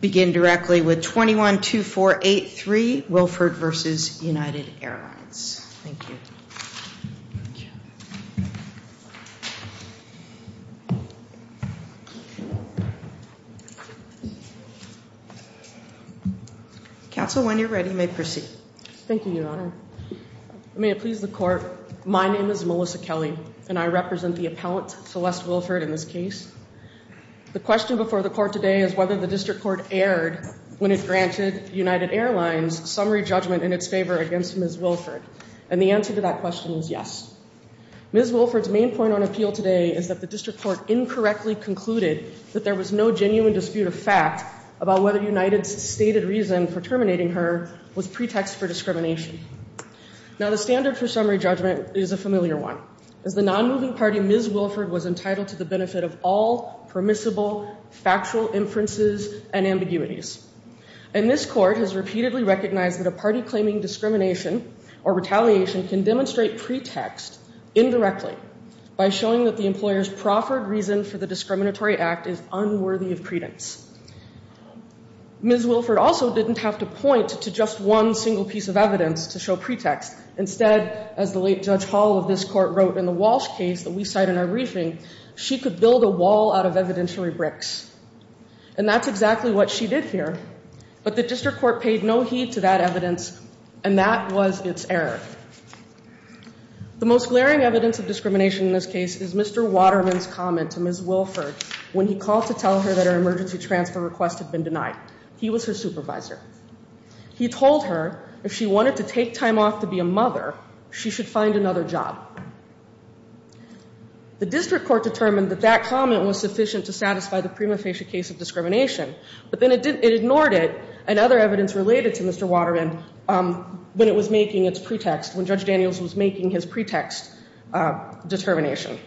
Begin directly with 212483 Wilford v. United Airlines. Counsel, when you're ready, you may proceed. Thank you, Your Honor. May it please the Court, my name is Melissa Kelly, and I represent the appellant, Celeste Wilford, in this case. The question before the Court today is whether the District Court erred when it granted United Airlines summary judgment in its favor against Ms. Wilford. And the answer to that question is yes. Ms. Wilford's main point on appeal today is that the District Court incorrectly concluded that there was no genuine dispute of fact about whether United's stated reason for terminating her was pretext for discrimination. Now, the standard for summary judgment is a familiar one. As the non-moving party, Ms. Wilford was entitled to the benefit of all permissible factual inferences and ambiguities. And this Court has repeatedly recognized that a party claiming discrimination or retaliation can demonstrate pretext indirectly by showing that the employer's proffered reason for the discriminatory act is unworthy of credence. Ms. Wilford also didn't have to point to just one single piece of evidence to show pretext. Instead, as the late Judge Hall of this Court wrote in the Walsh case that we cite in our briefing, she could build a wall out of evidentiary bricks. And that's exactly what she did here. But the District Court paid no heed to that evidence, and that was its error. The most glaring evidence of discrimination in this case is Mr. Waterman's comment to Ms. Wilford when he called to tell her that her emergency transfer request had been denied. He was her supervisor. He told her if she wanted to take time off to be a mother, she should find another job. The District Court determined that that comment was sufficient to satisfy the prima facie case of discrimination. But then it ignored it and other evidence related to Mr. Waterman when it was making its pretext, when Judge Daniels was making his pretext determination.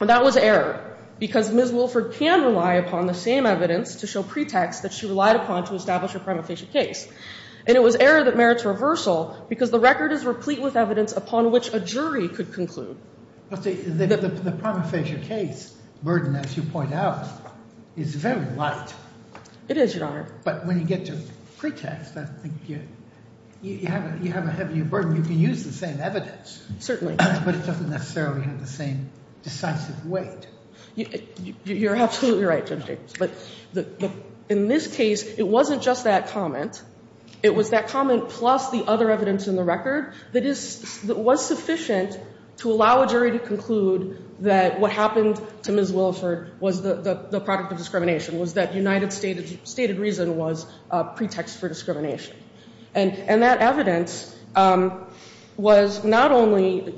And that was error, because Ms. Wilford can rely upon the same evidence to show pretext that she relied upon to establish a prima facie case. And it was error that merits reversal, because the record is replete with evidence upon which a jury could conclude. The prima facie case burden, as you point out, is very light. It is, Your Honor. But when you get to pretext, I think you have a heavier burden. You can use the same evidence. Certainly. But it doesn't necessarily have the same decisive weight. You're absolutely right, Judge Jacobs. But in this case, it wasn't just that comment. It was that comment plus the other evidence in the record that was sufficient to allow a jury to conclude that what happened to Ms. Wilford was the product of discrimination, was that United States' stated reason was a pretext for discrimination. And that evidence was not only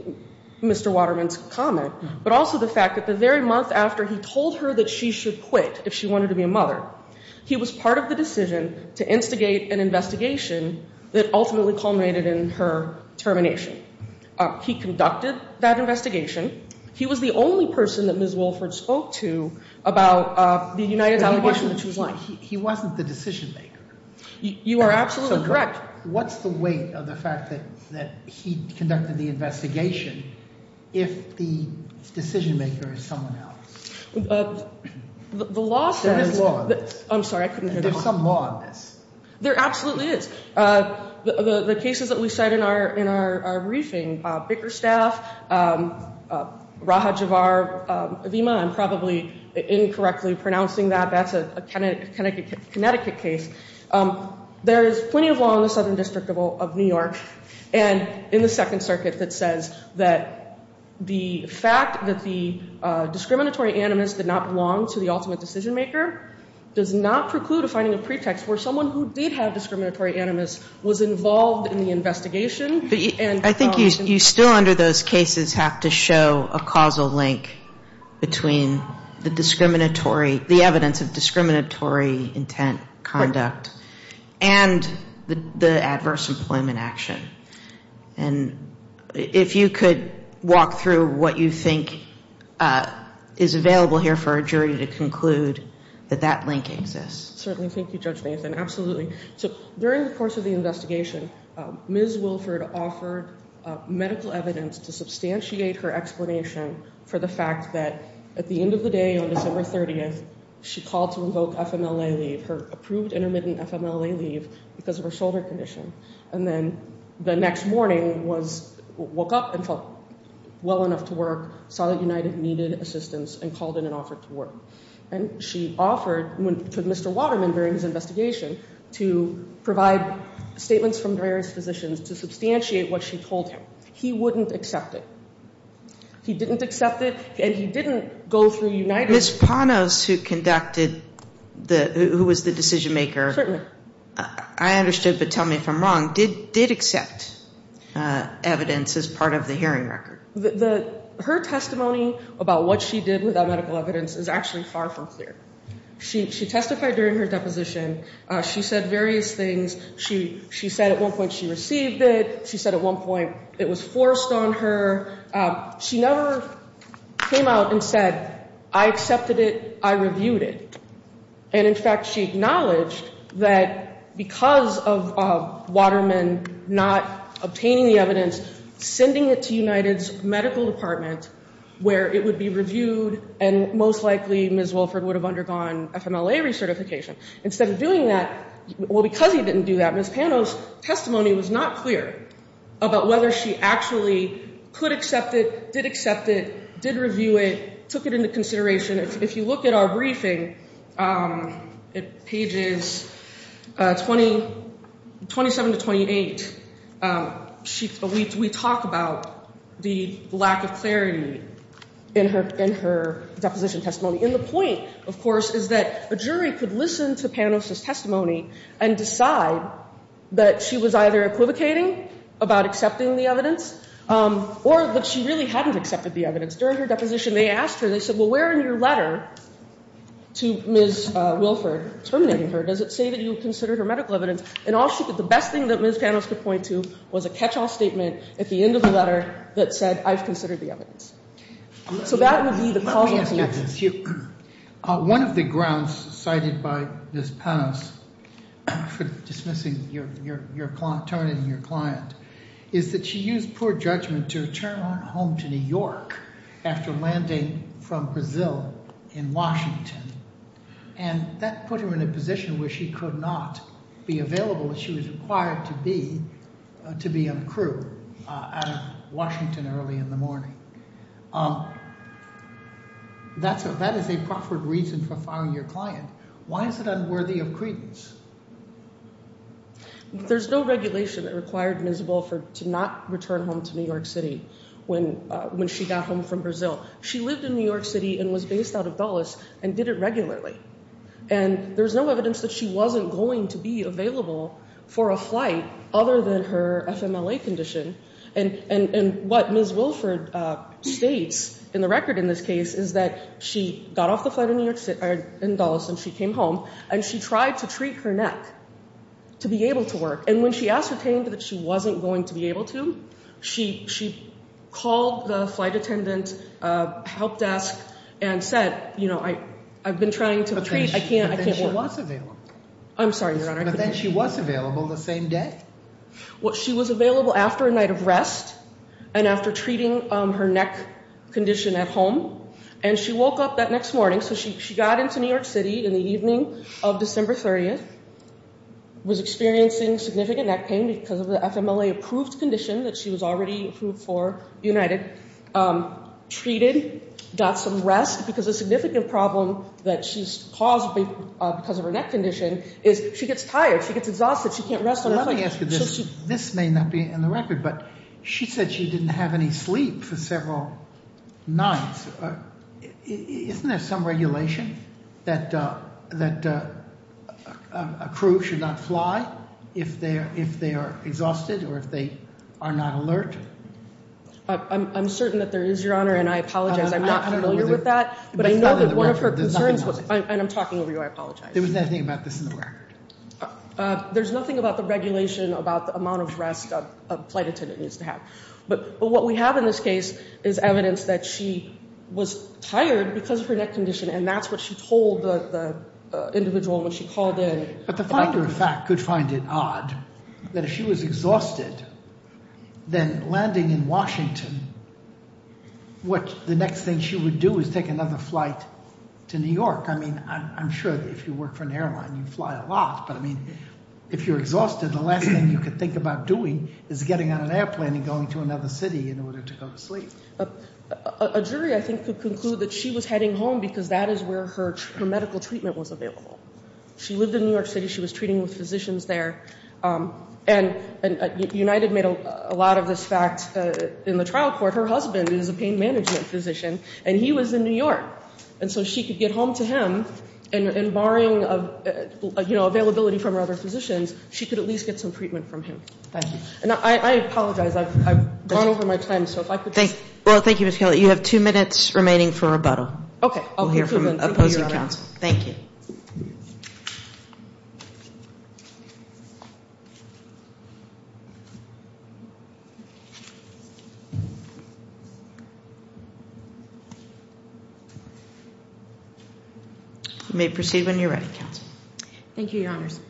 Mr. Waterman's comment, but also the fact that the very month after he told her that she should quit if she wanted to be a mother, he was part of the decision to instigate an investigation that ultimately culminated in her termination. He conducted that investigation. He was the only person that Ms. Wilford spoke to about the United States' allegation that she was lying. He wasn't the decision-maker. You are absolutely correct. What's the weight of the fact that he conducted the investigation if the decision-maker is someone else? There's law on this. I'm sorry, I couldn't hear the question. There's some law on this. There absolutely is. The cases that we cite in our briefing, Bickerstaff, Raha Javar, Avima, I'm probably incorrectly pronouncing that. That's a Connecticut case. There is plenty of law in the Southern District of New York and in the Second Circuit that says that the fact that the discriminatory animus did not belong to the ultimate decision-maker does not preclude a finding of pretext where someone who did have discriminatory animus was involved in the investigation. I think you still under those cases have to show a causal link between the discriminatory, the evidence of discriminatory intent, conduct, and the adverse employment action. And if you could walk through what you think is available here for a jury to conclude that that link exists. Certainly. Thank you, Judge Bainton. Absolutely. So during the course of the investigation, Ms. Wilford offered medical evidence to substantiate her explanation for the fact that at the end of the day on December 30th, she called to invoke FMLA leave, her approved intermittent FMLA leave, because of her shoulder condition. And then the next morning, woke up and felt well enough to work, saw that United needed assistance, and called in and offered to work. And she offered to Mr. Waterman during his investigation to provide statements from various physicians to substantiate what she told him. He wouldn't accept it. He didn't accept it, and he didn't go through United. Ms. Panos, who conducted the, who was the decision-maker. Certainly. I understood, but tell me if I'm wrong, did accept evidence as part of the hearing record. Her testimony about what she did without medical evidence is actually far from clear. She testified during her deposition. She said various things. She said at one point she received it. She said at one point it was forced on her. She never came out and said, I accepted it, I reviewed it. And, in fact, she acknowledged that because of Waterman not obtaining the evidence, sending it to United's medical department, where it would be reviewed, and most likely Ms. Wolford would have undergone FMLA recertification. Instead of doing that, well, because he didn't do that, Ms. Panos' testimony was not clear about whether she actually could accept it, did accept it, did review it, took it into consideration. If you look at our briefing, pages 27 to 28, we talk about the lack of clarity in her deposition testimony. And the point, of course, is that a jury could listen to Panos' testimony and decide that she was either equivocating about accepting the evidence or that she really hadn't accepted the evidence. During her deposition, they asked her, they said, well, where in your letter to Ms. Wolford, terminating her, does it say that you considered her medical evidence? And all she could, the best thing that Ms. Panos could point to was a catch-all statement at the end of the letter that said, I've considered the evidence. So that would be the causal connection. One of the grounds cited by Ms. Panos for dismissing your client, terminating your client, is that she used poor judgment to return home to New York after landing from Brazil in Washington. And that put her in a position where she could not be available. She was required to be on crew out of Washington early in the morning. That is a proffered reason for firing your client. Why is it unworthy of credence? There's no regulation that required Ms. Wolford to not return home to New York City when she got home from Brazil. She lived in New York City and was based out of Dulles and did it regularly. And there's no evidence that she wasn't going to be available for a flight other than her FMLA condition. And what Ms. Wolford states in the record in this case is that she got off the flight in Dulles and she came home and she tried to treat her neck to be able to work. And when she ascertained that she wasn't going to be able to, she called the flight attendant help desk and said, you know, I've been trying to treat. I can't work. But then she was available. I'm sorry, Your Honor. But then she was available the same day. She was available after a night of rest and after treating her neck condition at home. And she woke up that next morning. So she got into New York City in the evening of December 30th, was experiencing significant neck pain because of the FMLA-approved condition that she was already approved for, united. Treated, got some rest because a significant problem that she's caused because of her neck condition is she gets tired. She gets exhausted. She can't rest on the flight. Let me ask you this. This may not be in the record, but she said she didn't have any sleep for several nights. Isn't there some regulation that a crew should not fly if they are exhausted or if they are not alert? I'm certain that there is, Your Honor, and I apologize. I'm not familiar with that. But I know that one of her concerns was – and I'm talking over you. I apologize. There was nothing about this in the record. There's nothing about the regulation about the amount of rest a flight attendant needs to have. But what we have in this case is evidence that she was tired because of her neck condition, and that's what she told the individual when she called in. But the factor of fact could find it odd that if she was exhausted, then landing in Washington, what the next thing she would do is take another flight to New York. I mean, I'm sure if you work for an airline, you fly a lot. But, I mean, if you're exhausted, the last thing you could think about doing is getting on an airplane and going to another city in order to go to sleep. A jury, I think, could conclude that she was heading home because that is where her medical treatment was available. She lived in New York City. She was treating with physicians there. And United made a lot of this fact in the trial court. Her husband is a pain management physician, and he was in New York. And so she could get home to him, and barring availability from her other physicians, she could at least get some treatment from him. Thank you. And I apologize. I've gone over my time. Well, thank you, Ms. Kelly. You have two minutes remaining for rebuttal. Okay. We'll hear from opposing counsel. Thank you. You may proceed when you're ready, counsel. Thank you, Your Honors.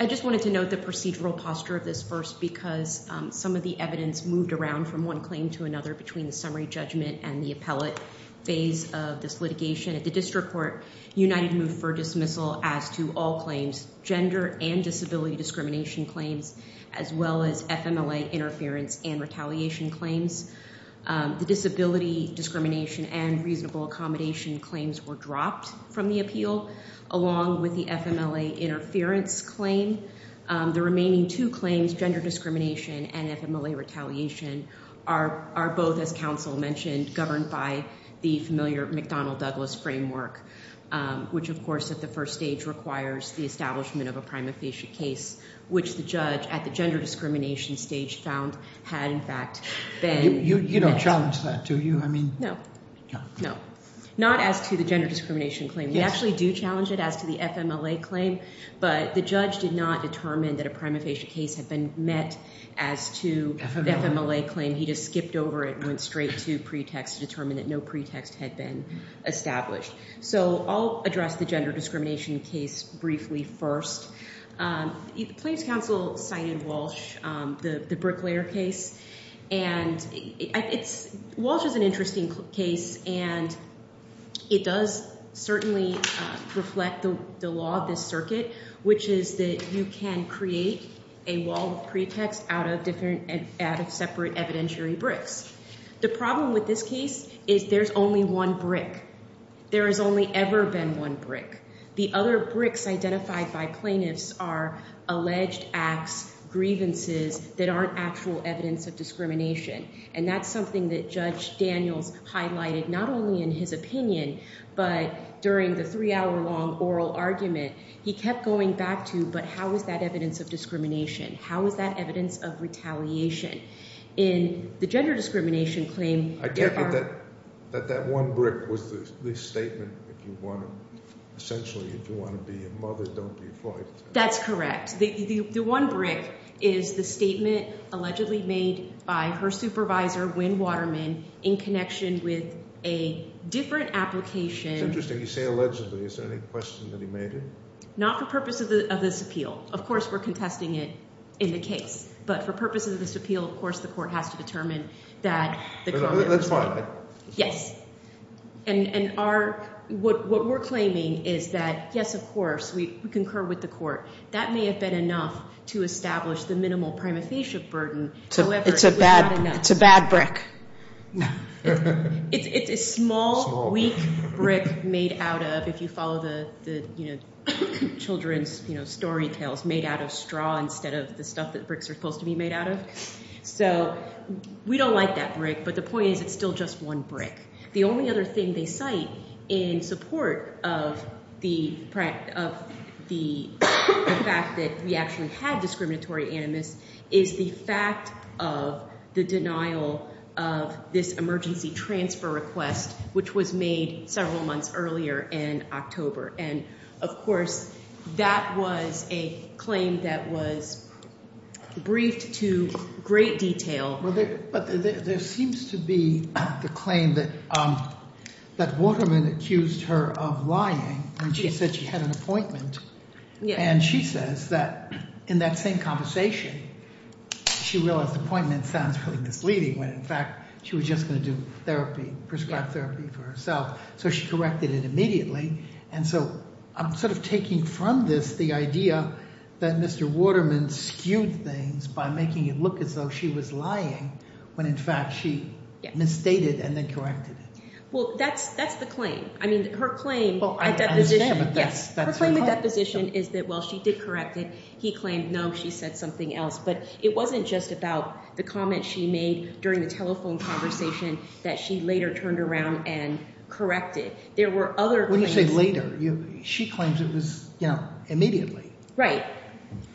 I just wanted to note the procedural posture of this first because some of the evidence moved around from one claim to another between the summary judgment and the appellate phase of this litigation. At the district court, United moved for dismissal as to all claims, gender and disability discrimination claims, as well as FMLA interference and retaliation claims. The disability discrimination and reasonable accommodation claims were dropped from the appeal, along with the FMLA interference claim. The remaining two claims, gender discrimination and FMLA retaliation, are both, as counsel mentioned, governed by the familiar McDonnell-Douglas framework, which, of course, at the first stage requires the establishment of a prima facie case, which the judge at the gender discrimination stage found had, in fact, been met. You don't challenge that, do you? No. No. Not as to the gender discrimination claim. We actually do challenge it as to the FMLA claim, but the judge did not determine that a prima facie case had been met as to the FMLA claim. He just skipped over it and went straight to pretext to determine that no pretext had been established. So I'll address the gender discrimination case briefly first. The claims counsel cited Walsh, the Bricklayer case. And Walsh is an interesting case, and it does certainly reflect the law of this circuit, which is that you can create a wall of pretext out of separate evidentiary bricks. The problem with this case is there's only one brick. There has only ever been one brick. The other bricks identified by plaintiffs are alleged acts, grievances that aren't actual evidence of discrimination. And that's something that Judge Daniels highlighted not only in his opinion but during the three-hour-long oral argument. He kept going back to, but how is that evidence of discrimination? How is that evidence of retaliation? In the gender discrimination claim, there are— I take it that that one brick was the statement, if you want to—essentially, if you want to be a mother, don't be a father. That's correct. The one brick is the statement allegedly made by her supervisor, Wynne Waterman, in connection with a different application. It's interesting. You say allegedly. Is there any question that he made it? Not for purpose of this appeal. Of course, we're contesting it in the case. But for purpose of this appeal, of course, the court has to determine that the claim— That's fine. Yes. And our—what we're claiming is that, yes, of course, we concur with the court. That may have been enough to establish the minimal prima facie burden. However, it's not enough. It's a bad brick. It's a small, weak brick made out of, if you follow the children's story tales, made out of straw instead of the stuff that bricks are supposed to be made out of. So we don't like that brick, but the point is it's still just one brick. The only other thing they cite in support of the fact that we actually had discriminatory animus is the fact of the denial of this emergency transfer request, which was made several months earlier in October. And, of course, that was a claim that was briefed to great detail. But there seems to be the claim that Waterman accused her of lying when she said she had an appointment. And she says that in that same conversation, she realized appointment sounds really misleading when, in fact, she was just going to do therapy, prescribed therapy for herself. So she corrected it immediately. And so I'm sort of taking from this the idea that Mr. Waterman skewed things by making it look as though she was lying when, in fact, she misstated and then corrected it. Well, that's the claim. I mean, her claim at that position is that, well, she did correct it. He claimed, no, she said something else. But it wasn't just about the comment she made during the telephone conversation that she later turned around and corrected. There were other claims. What do you say later? She claims it was immediately. Right,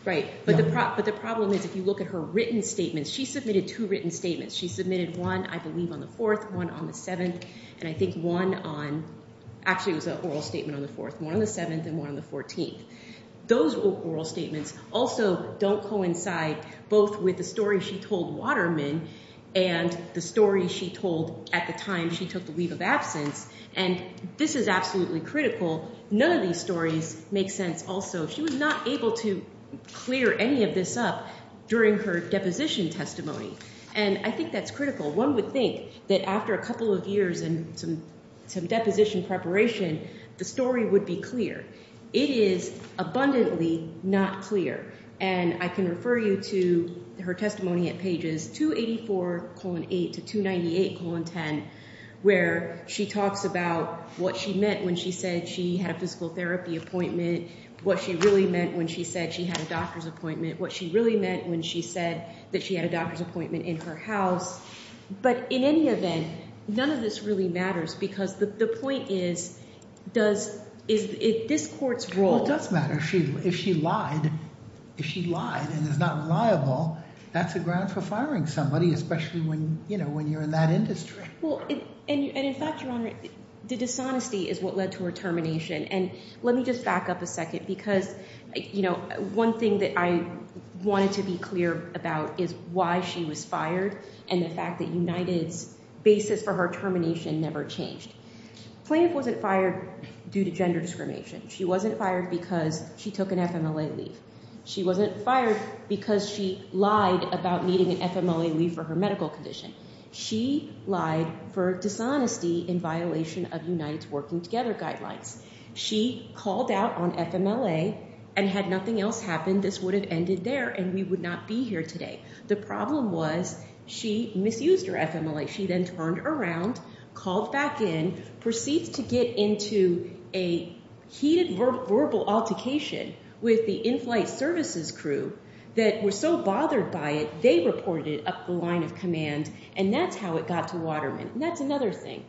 right. But the problem is if you look at her written statements, she submitted two written statements. She submitted one, I believe, on the 4th, one on the 7th, and I think one on – actually, it was an oral statement on the 4th, one on the 7th, and one on the 14th. Those oral statements also don't coincide both with the story she told Waterman and the story she told at the time she took the leave of absence, and this is absolutely critical. None of these stories make sense also. She was not able to clear any of this up during her deposition testimony, and I think that's critical. One would think that after a couple of years and some deposition preparation, the story would be clear. It is abundantly not clear, and I can refer you to her testimony at pages 284-8 to 298-10 where she talks about what she meant when she said she had a physical therapy appointment, what she really meant when she said she had a doctor's appointment, what she really meant when she said that she had a doctor's appointment in her house. But in any event, none of this really matters because the point is, does – is this court's role – Well, it does matter. If she lied, if she lied and is not reliable, that's a ground for firing somebody, especially when you're in that industry. Well, and in fact, Your Honor, the dishonesty is what led to her termination, and let me just back up a second because one thing that I wanted to be clear about is why she was fired and the fact that United's basis for her termination never changed. Plaintiff wasn't fired due to gender discrimination. She wasn't fired because she took an FMLA leave. She wasn't fired because she lied about needing an FMLA leave for her medical condition. She lied for dishonesty in violation of United's working together guidelines. She called out on FMLA and had nothing else happened, this would have ended there and we would not be here today. The problem was she misused her FMLA. She then turned around, called back in, proceeds to get into a heated verbal altercation with the in-flight services crew that were so bothered by it they reported it up the line of command, and that's how it got to Waterman. And that's another thing.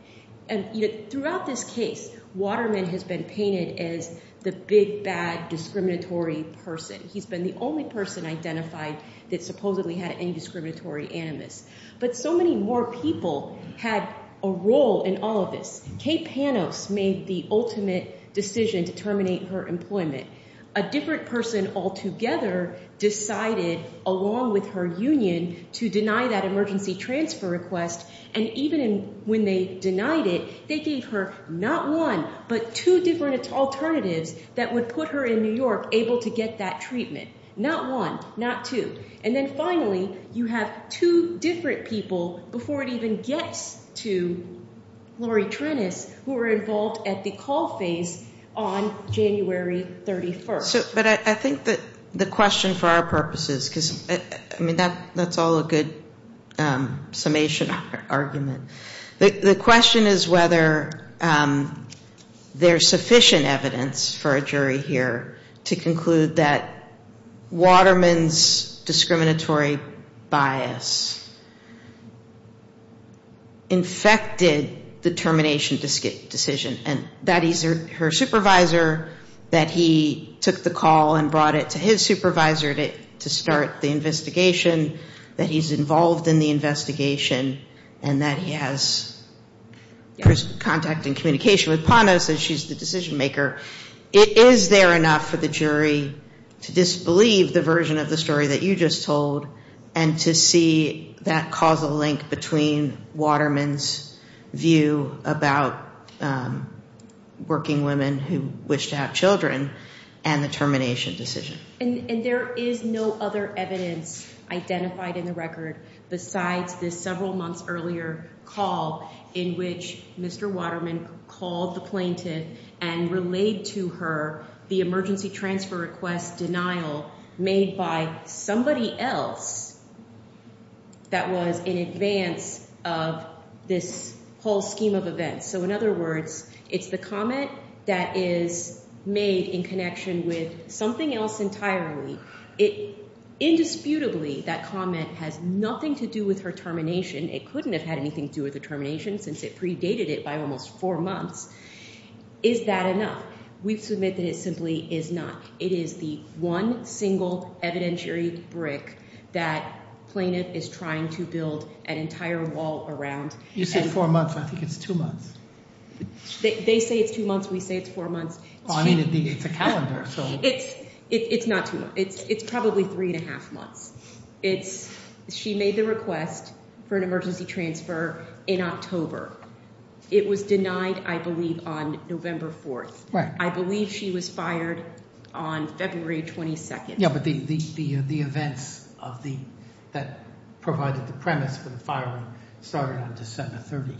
Throughout this case, Waterman has been painted as the big, bad, discriminatory person. He's been the only person identified that supposedly had any discriminatory animus. But so many more people had a role in all of this. Kate Panos made the ultimate decision to terminate her employment. A different person altogether decided, along with her union, to deny that emergency transfer request, and even when they denied it, they gave her not one but two different alternatives that would put her in New York able to get that treatment. Not one, not two. And then finally, you have two different people, before it even gets to Lori Trennis, who were involved at the call phase on January 31st. But I think that the question for our purposes, because that's all a good summation argument. The question is whether there's sufficient evidence for a jury here to conclude that Waterman's discriminatory bias infected the termination decision. And that he's her supervisor, that he took the call and brought it to his supervisor to start the investigation, that he's involved in the investigation, and that he has contact and communication with Panos, as she's the decision maker. Is there enough for the jury to disbelieve the version of the story that you just told and to see that causal link between Waterman's view about working women who wish to have children and the termination decision? And there is no other evidence identified in the record besides this several months earlier call in which Mr. Waterman called the plaintiff and relayed to her the emergency transfer request denial made by somebody else that was in advance of this whole scheme of events. So in other words, it's the comment that is made in connection with something else entirely. Indisputably, that comment has nothing to do with her termination. It couldn't have had anything to do with the termination since it predated it by almost four months. Is that enough? We submit that it simply is not. It is the one single evidentiary brick that plaintiff is trying to build an entire wall around. You said four months. I think it's two months. They say it's two months. We say it's four months. It's a calendar. It's not two months. It's probably three and a half months. She made the request for an emergency transfer in October. It was denied, I believe, on November 4th. I believe she was fired on February 22nd. Yeah, but the events that provided the premise for the firing started on December 30th. It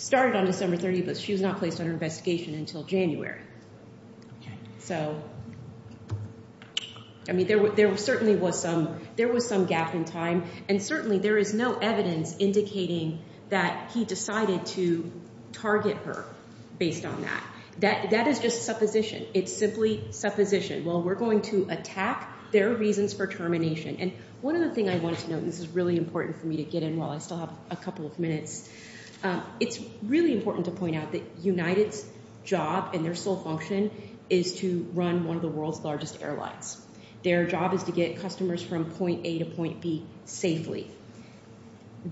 started on December 30th, but she was not placed under investigation until January. Okay. So, I mean, there certainly was some gap in time, and certainly there is no evidence indicating that he decided to target her based on that. That is just supposition. It's simply supposition. Well, we're going to attack their reasons for termination. And one other thing I wanted to note, and this is really important for me to get in while I still have a couple of minutes, it's really important to point out that United's job and their sole function is to run one of the world's largest airlines. Their job is to get customers from point A to point B safely.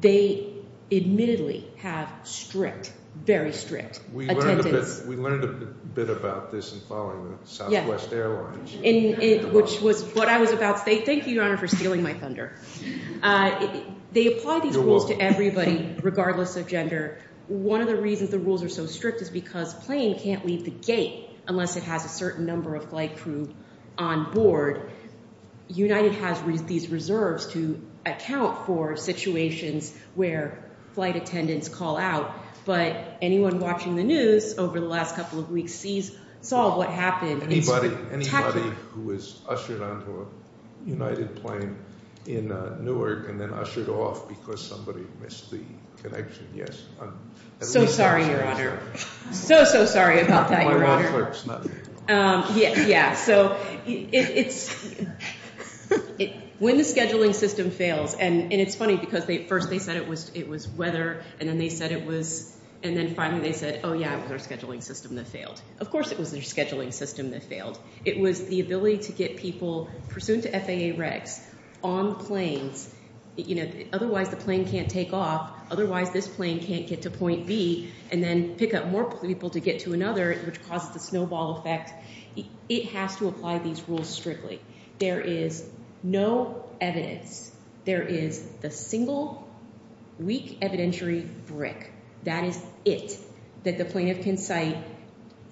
They admittedly have strict, very strict attendance. We learned a bit about this in following Southwest Airlines. Which was what I was about to say. Thank you, Your Honor, for stealing my thunder. They apply these rules to everybody regardless of gender. One of the reasons the rules are so strict is because a plane can't leave the gate unless it has a certain number of flight crew on board. United has these reserves to account for situations where flight attendants call out. But anyone watching the news over the last couple of weeks saw what happened. Anybody who was ushered onto a United plane in Newark and then ushered off because somebody missed the connection. So sorry, Your Honor. So, so sorry about that, Your Honor. Yeah. When the scheduling system fails, and it's funny because at first they said it was weather. And then they said it was, and then finally they said, oh yeah, it was our scheduling system that failed. Of course it was their scheduling system that failed. It was the ability to get people, pursuant to FAA regs, on planes. Otherwise the plane can't take off. Otherwise this plane can't get to point B. And then pick up more people to get to another, which causes the snowball effect. It has to apply these rules strictly. There is no evidence. There is the single weak evidentiary brick. That is it that the plaintiff can cite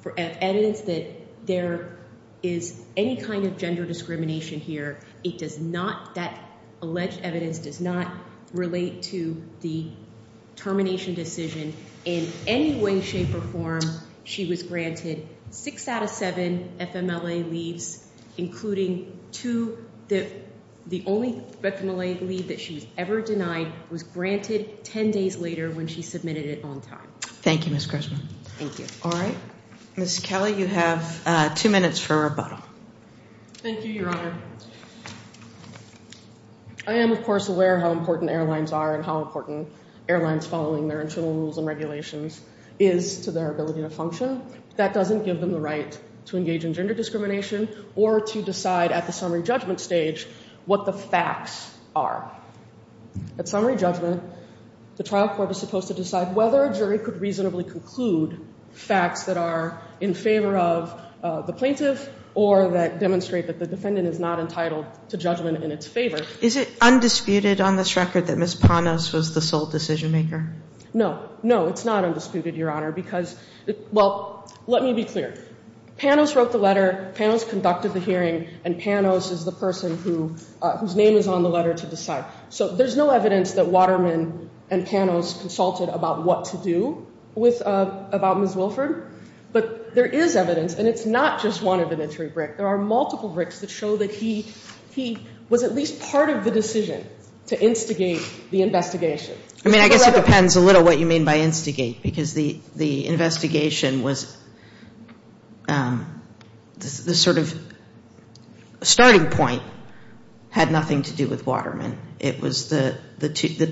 for evidence that there is any kind of gender discrimination here. It does not, that alleged evidence does not relate to the termination decision in any way, shape, or form. She was granted six out of seven FMLA leaves, including two, the only FMLA leave that she was ever denied was granted ten days later when she submitted it on time. Thank you, Ms. Grisham. Thank you. All right. Ms. Kelly, you have two minutes for rebuttal. Thank you, Your Honor. I am, of course, aware how important airlines are and how important airlines following their internal rules and regulations is to their ability to function. That doesn't give them the right to engage in gender discrimination or to decide at the summary judgment stage what the facts are. At summary judgment, the trial court is supposed to decide whether a jury could reasonably conclude facts that are in favor of the plaintiff or that demonstrate that the defendant is not entitled to judgment in its favor. Is it undisputed on this record that Ms. Panos was the sole decision maker? No. No, it's not undisputed, Your Honor, because, well, let me be clear. Panos wrote the letter, Panos conducted the hearing, and Panos is the person whose name is on the letter to decide. So there's no evidence that Waterman and Panos consulted about what to do about Ms. Wilford. But there is evidence, and it's not just one evidentiary brick. There are multiple bricks that show that he was at least part of the decision to instigate the investigation. I mean, I guess it depends a little what you mean by instigate, because the investigation was the sort of starting point had nothing to do with Waterman. It was the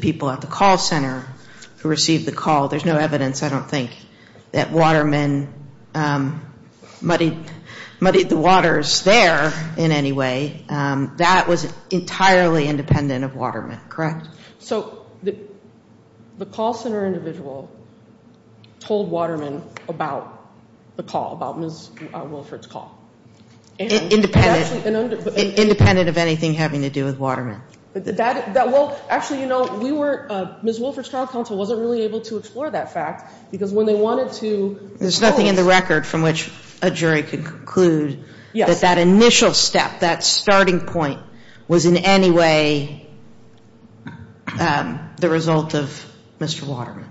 people at the call center who received the call. There's no evidence, I don't think, that Waterman muddied the waters there in any way. That was entirely independent of Waterman, correct? So the call center individual told Waterman about the call, about Ms. Wilford's call. Independent of anything having to do with Waterman. Actually, you know, Ms. Wilford's trial counsel wasn't really able to explore that fact, because when they wanted to- There's nothing in the record from which a jury could conclude that that initial step, that starting point, was in any way the result of Mr. Waterman.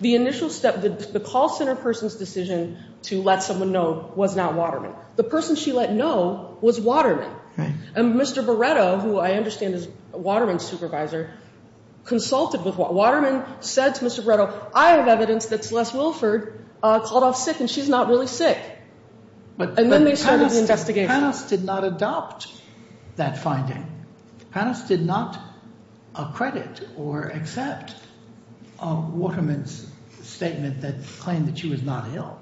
The initial step, the call center person's decision to let someone know was not Waterman. The person she let know was Waterman. And Mr. Beretto, who I understand is Waterman's supervisor, consulted with Waterman, said to Mr. Beretto, I have evidence that Celeste Wilford called off sick and she's not really sick. And then they started the investigation. Panos did not adopt that finding. Panos did not credit or accept Waterman's statement that claimed that she was not ill.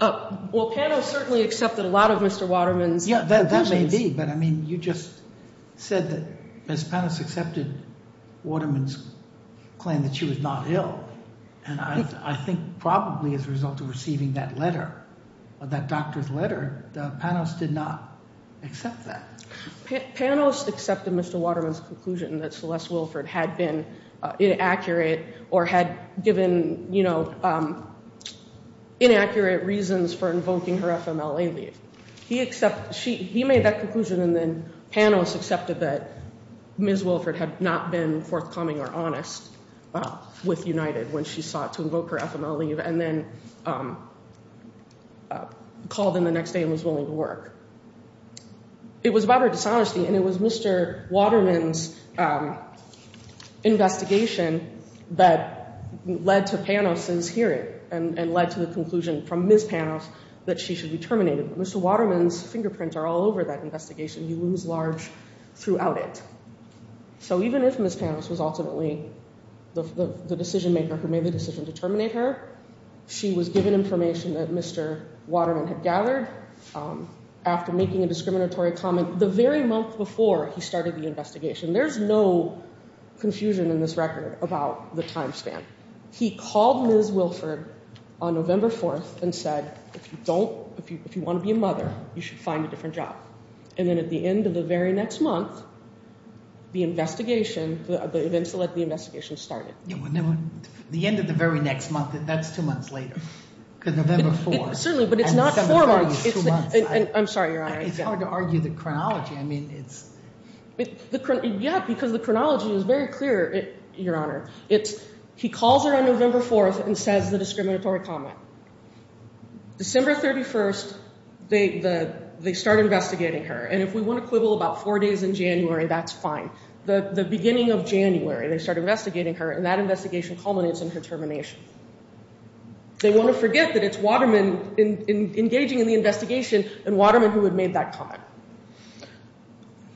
Well, Panos certainly accepted a lot of Mr. Waterman's- Yeah, that may be. But, I mean, you just said that Panos accepted Waterman's claim that she was not ill. And I think probably as a result of receiving that letter, that doctor's letter, Panos did not accept that. Panos accepted Mr. Waterman's conclusion that Celeste Wilford had been inaccurate or had given, you know, inaccurate reasons for invoking her FMLA leave. He made that conclusion and then Panos accepted that Ms. Wilford had not been forthcoming or honest with United when she sought to invoke her FMLA leave and then called in the next day and was willing to work. It was about her dishonesty and it was Mr. Waterman's investigation that led to Panos' hearing and led to the conclusion from Ms. Panos that she should be terminated. Mr. Waterman's fingerprints are all over that investigation. He was large throughout it. So even if Ms. Panos was ultimately the decision maker who made the decision to terminate her, she was given information that Mr. Waterman had gathered after making a discriminatory comment the very month before he started the investigation. There's no confusion in this record about the time span. He called Ms. Wilford on November 4th and said, if you want to be a mother, you should find a different job. And then at the end of the very next month, the investigation, the events that led to the investigation started. The end of the very next month, that's two months later, November 4th. Certainly, but it's not four months. I'm sorry, Your Honor. It's hard to argue the chronology. Yeah, because the chronology is very clear, Your Honor. He calls her on November 4th and says the discriminatory comment. December 31st, they start investigating her. And if we want to quibble about four days in January, that's fine. The beginning of January, they start investigating her, and that investigation culminates in her termination. They want to forget that it's Waterman engaging in the investigation and Waterman who had made that comment.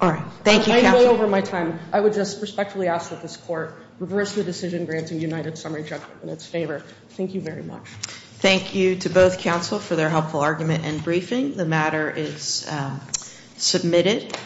All right. Thank you, counsel. I'm way over my time. I would just respectfully ask that this court reverse the decision granting United Summary judgment in its favor. Thank you very much. Thank you to both counsel for their helpful argument and briefing. The matter is submitted.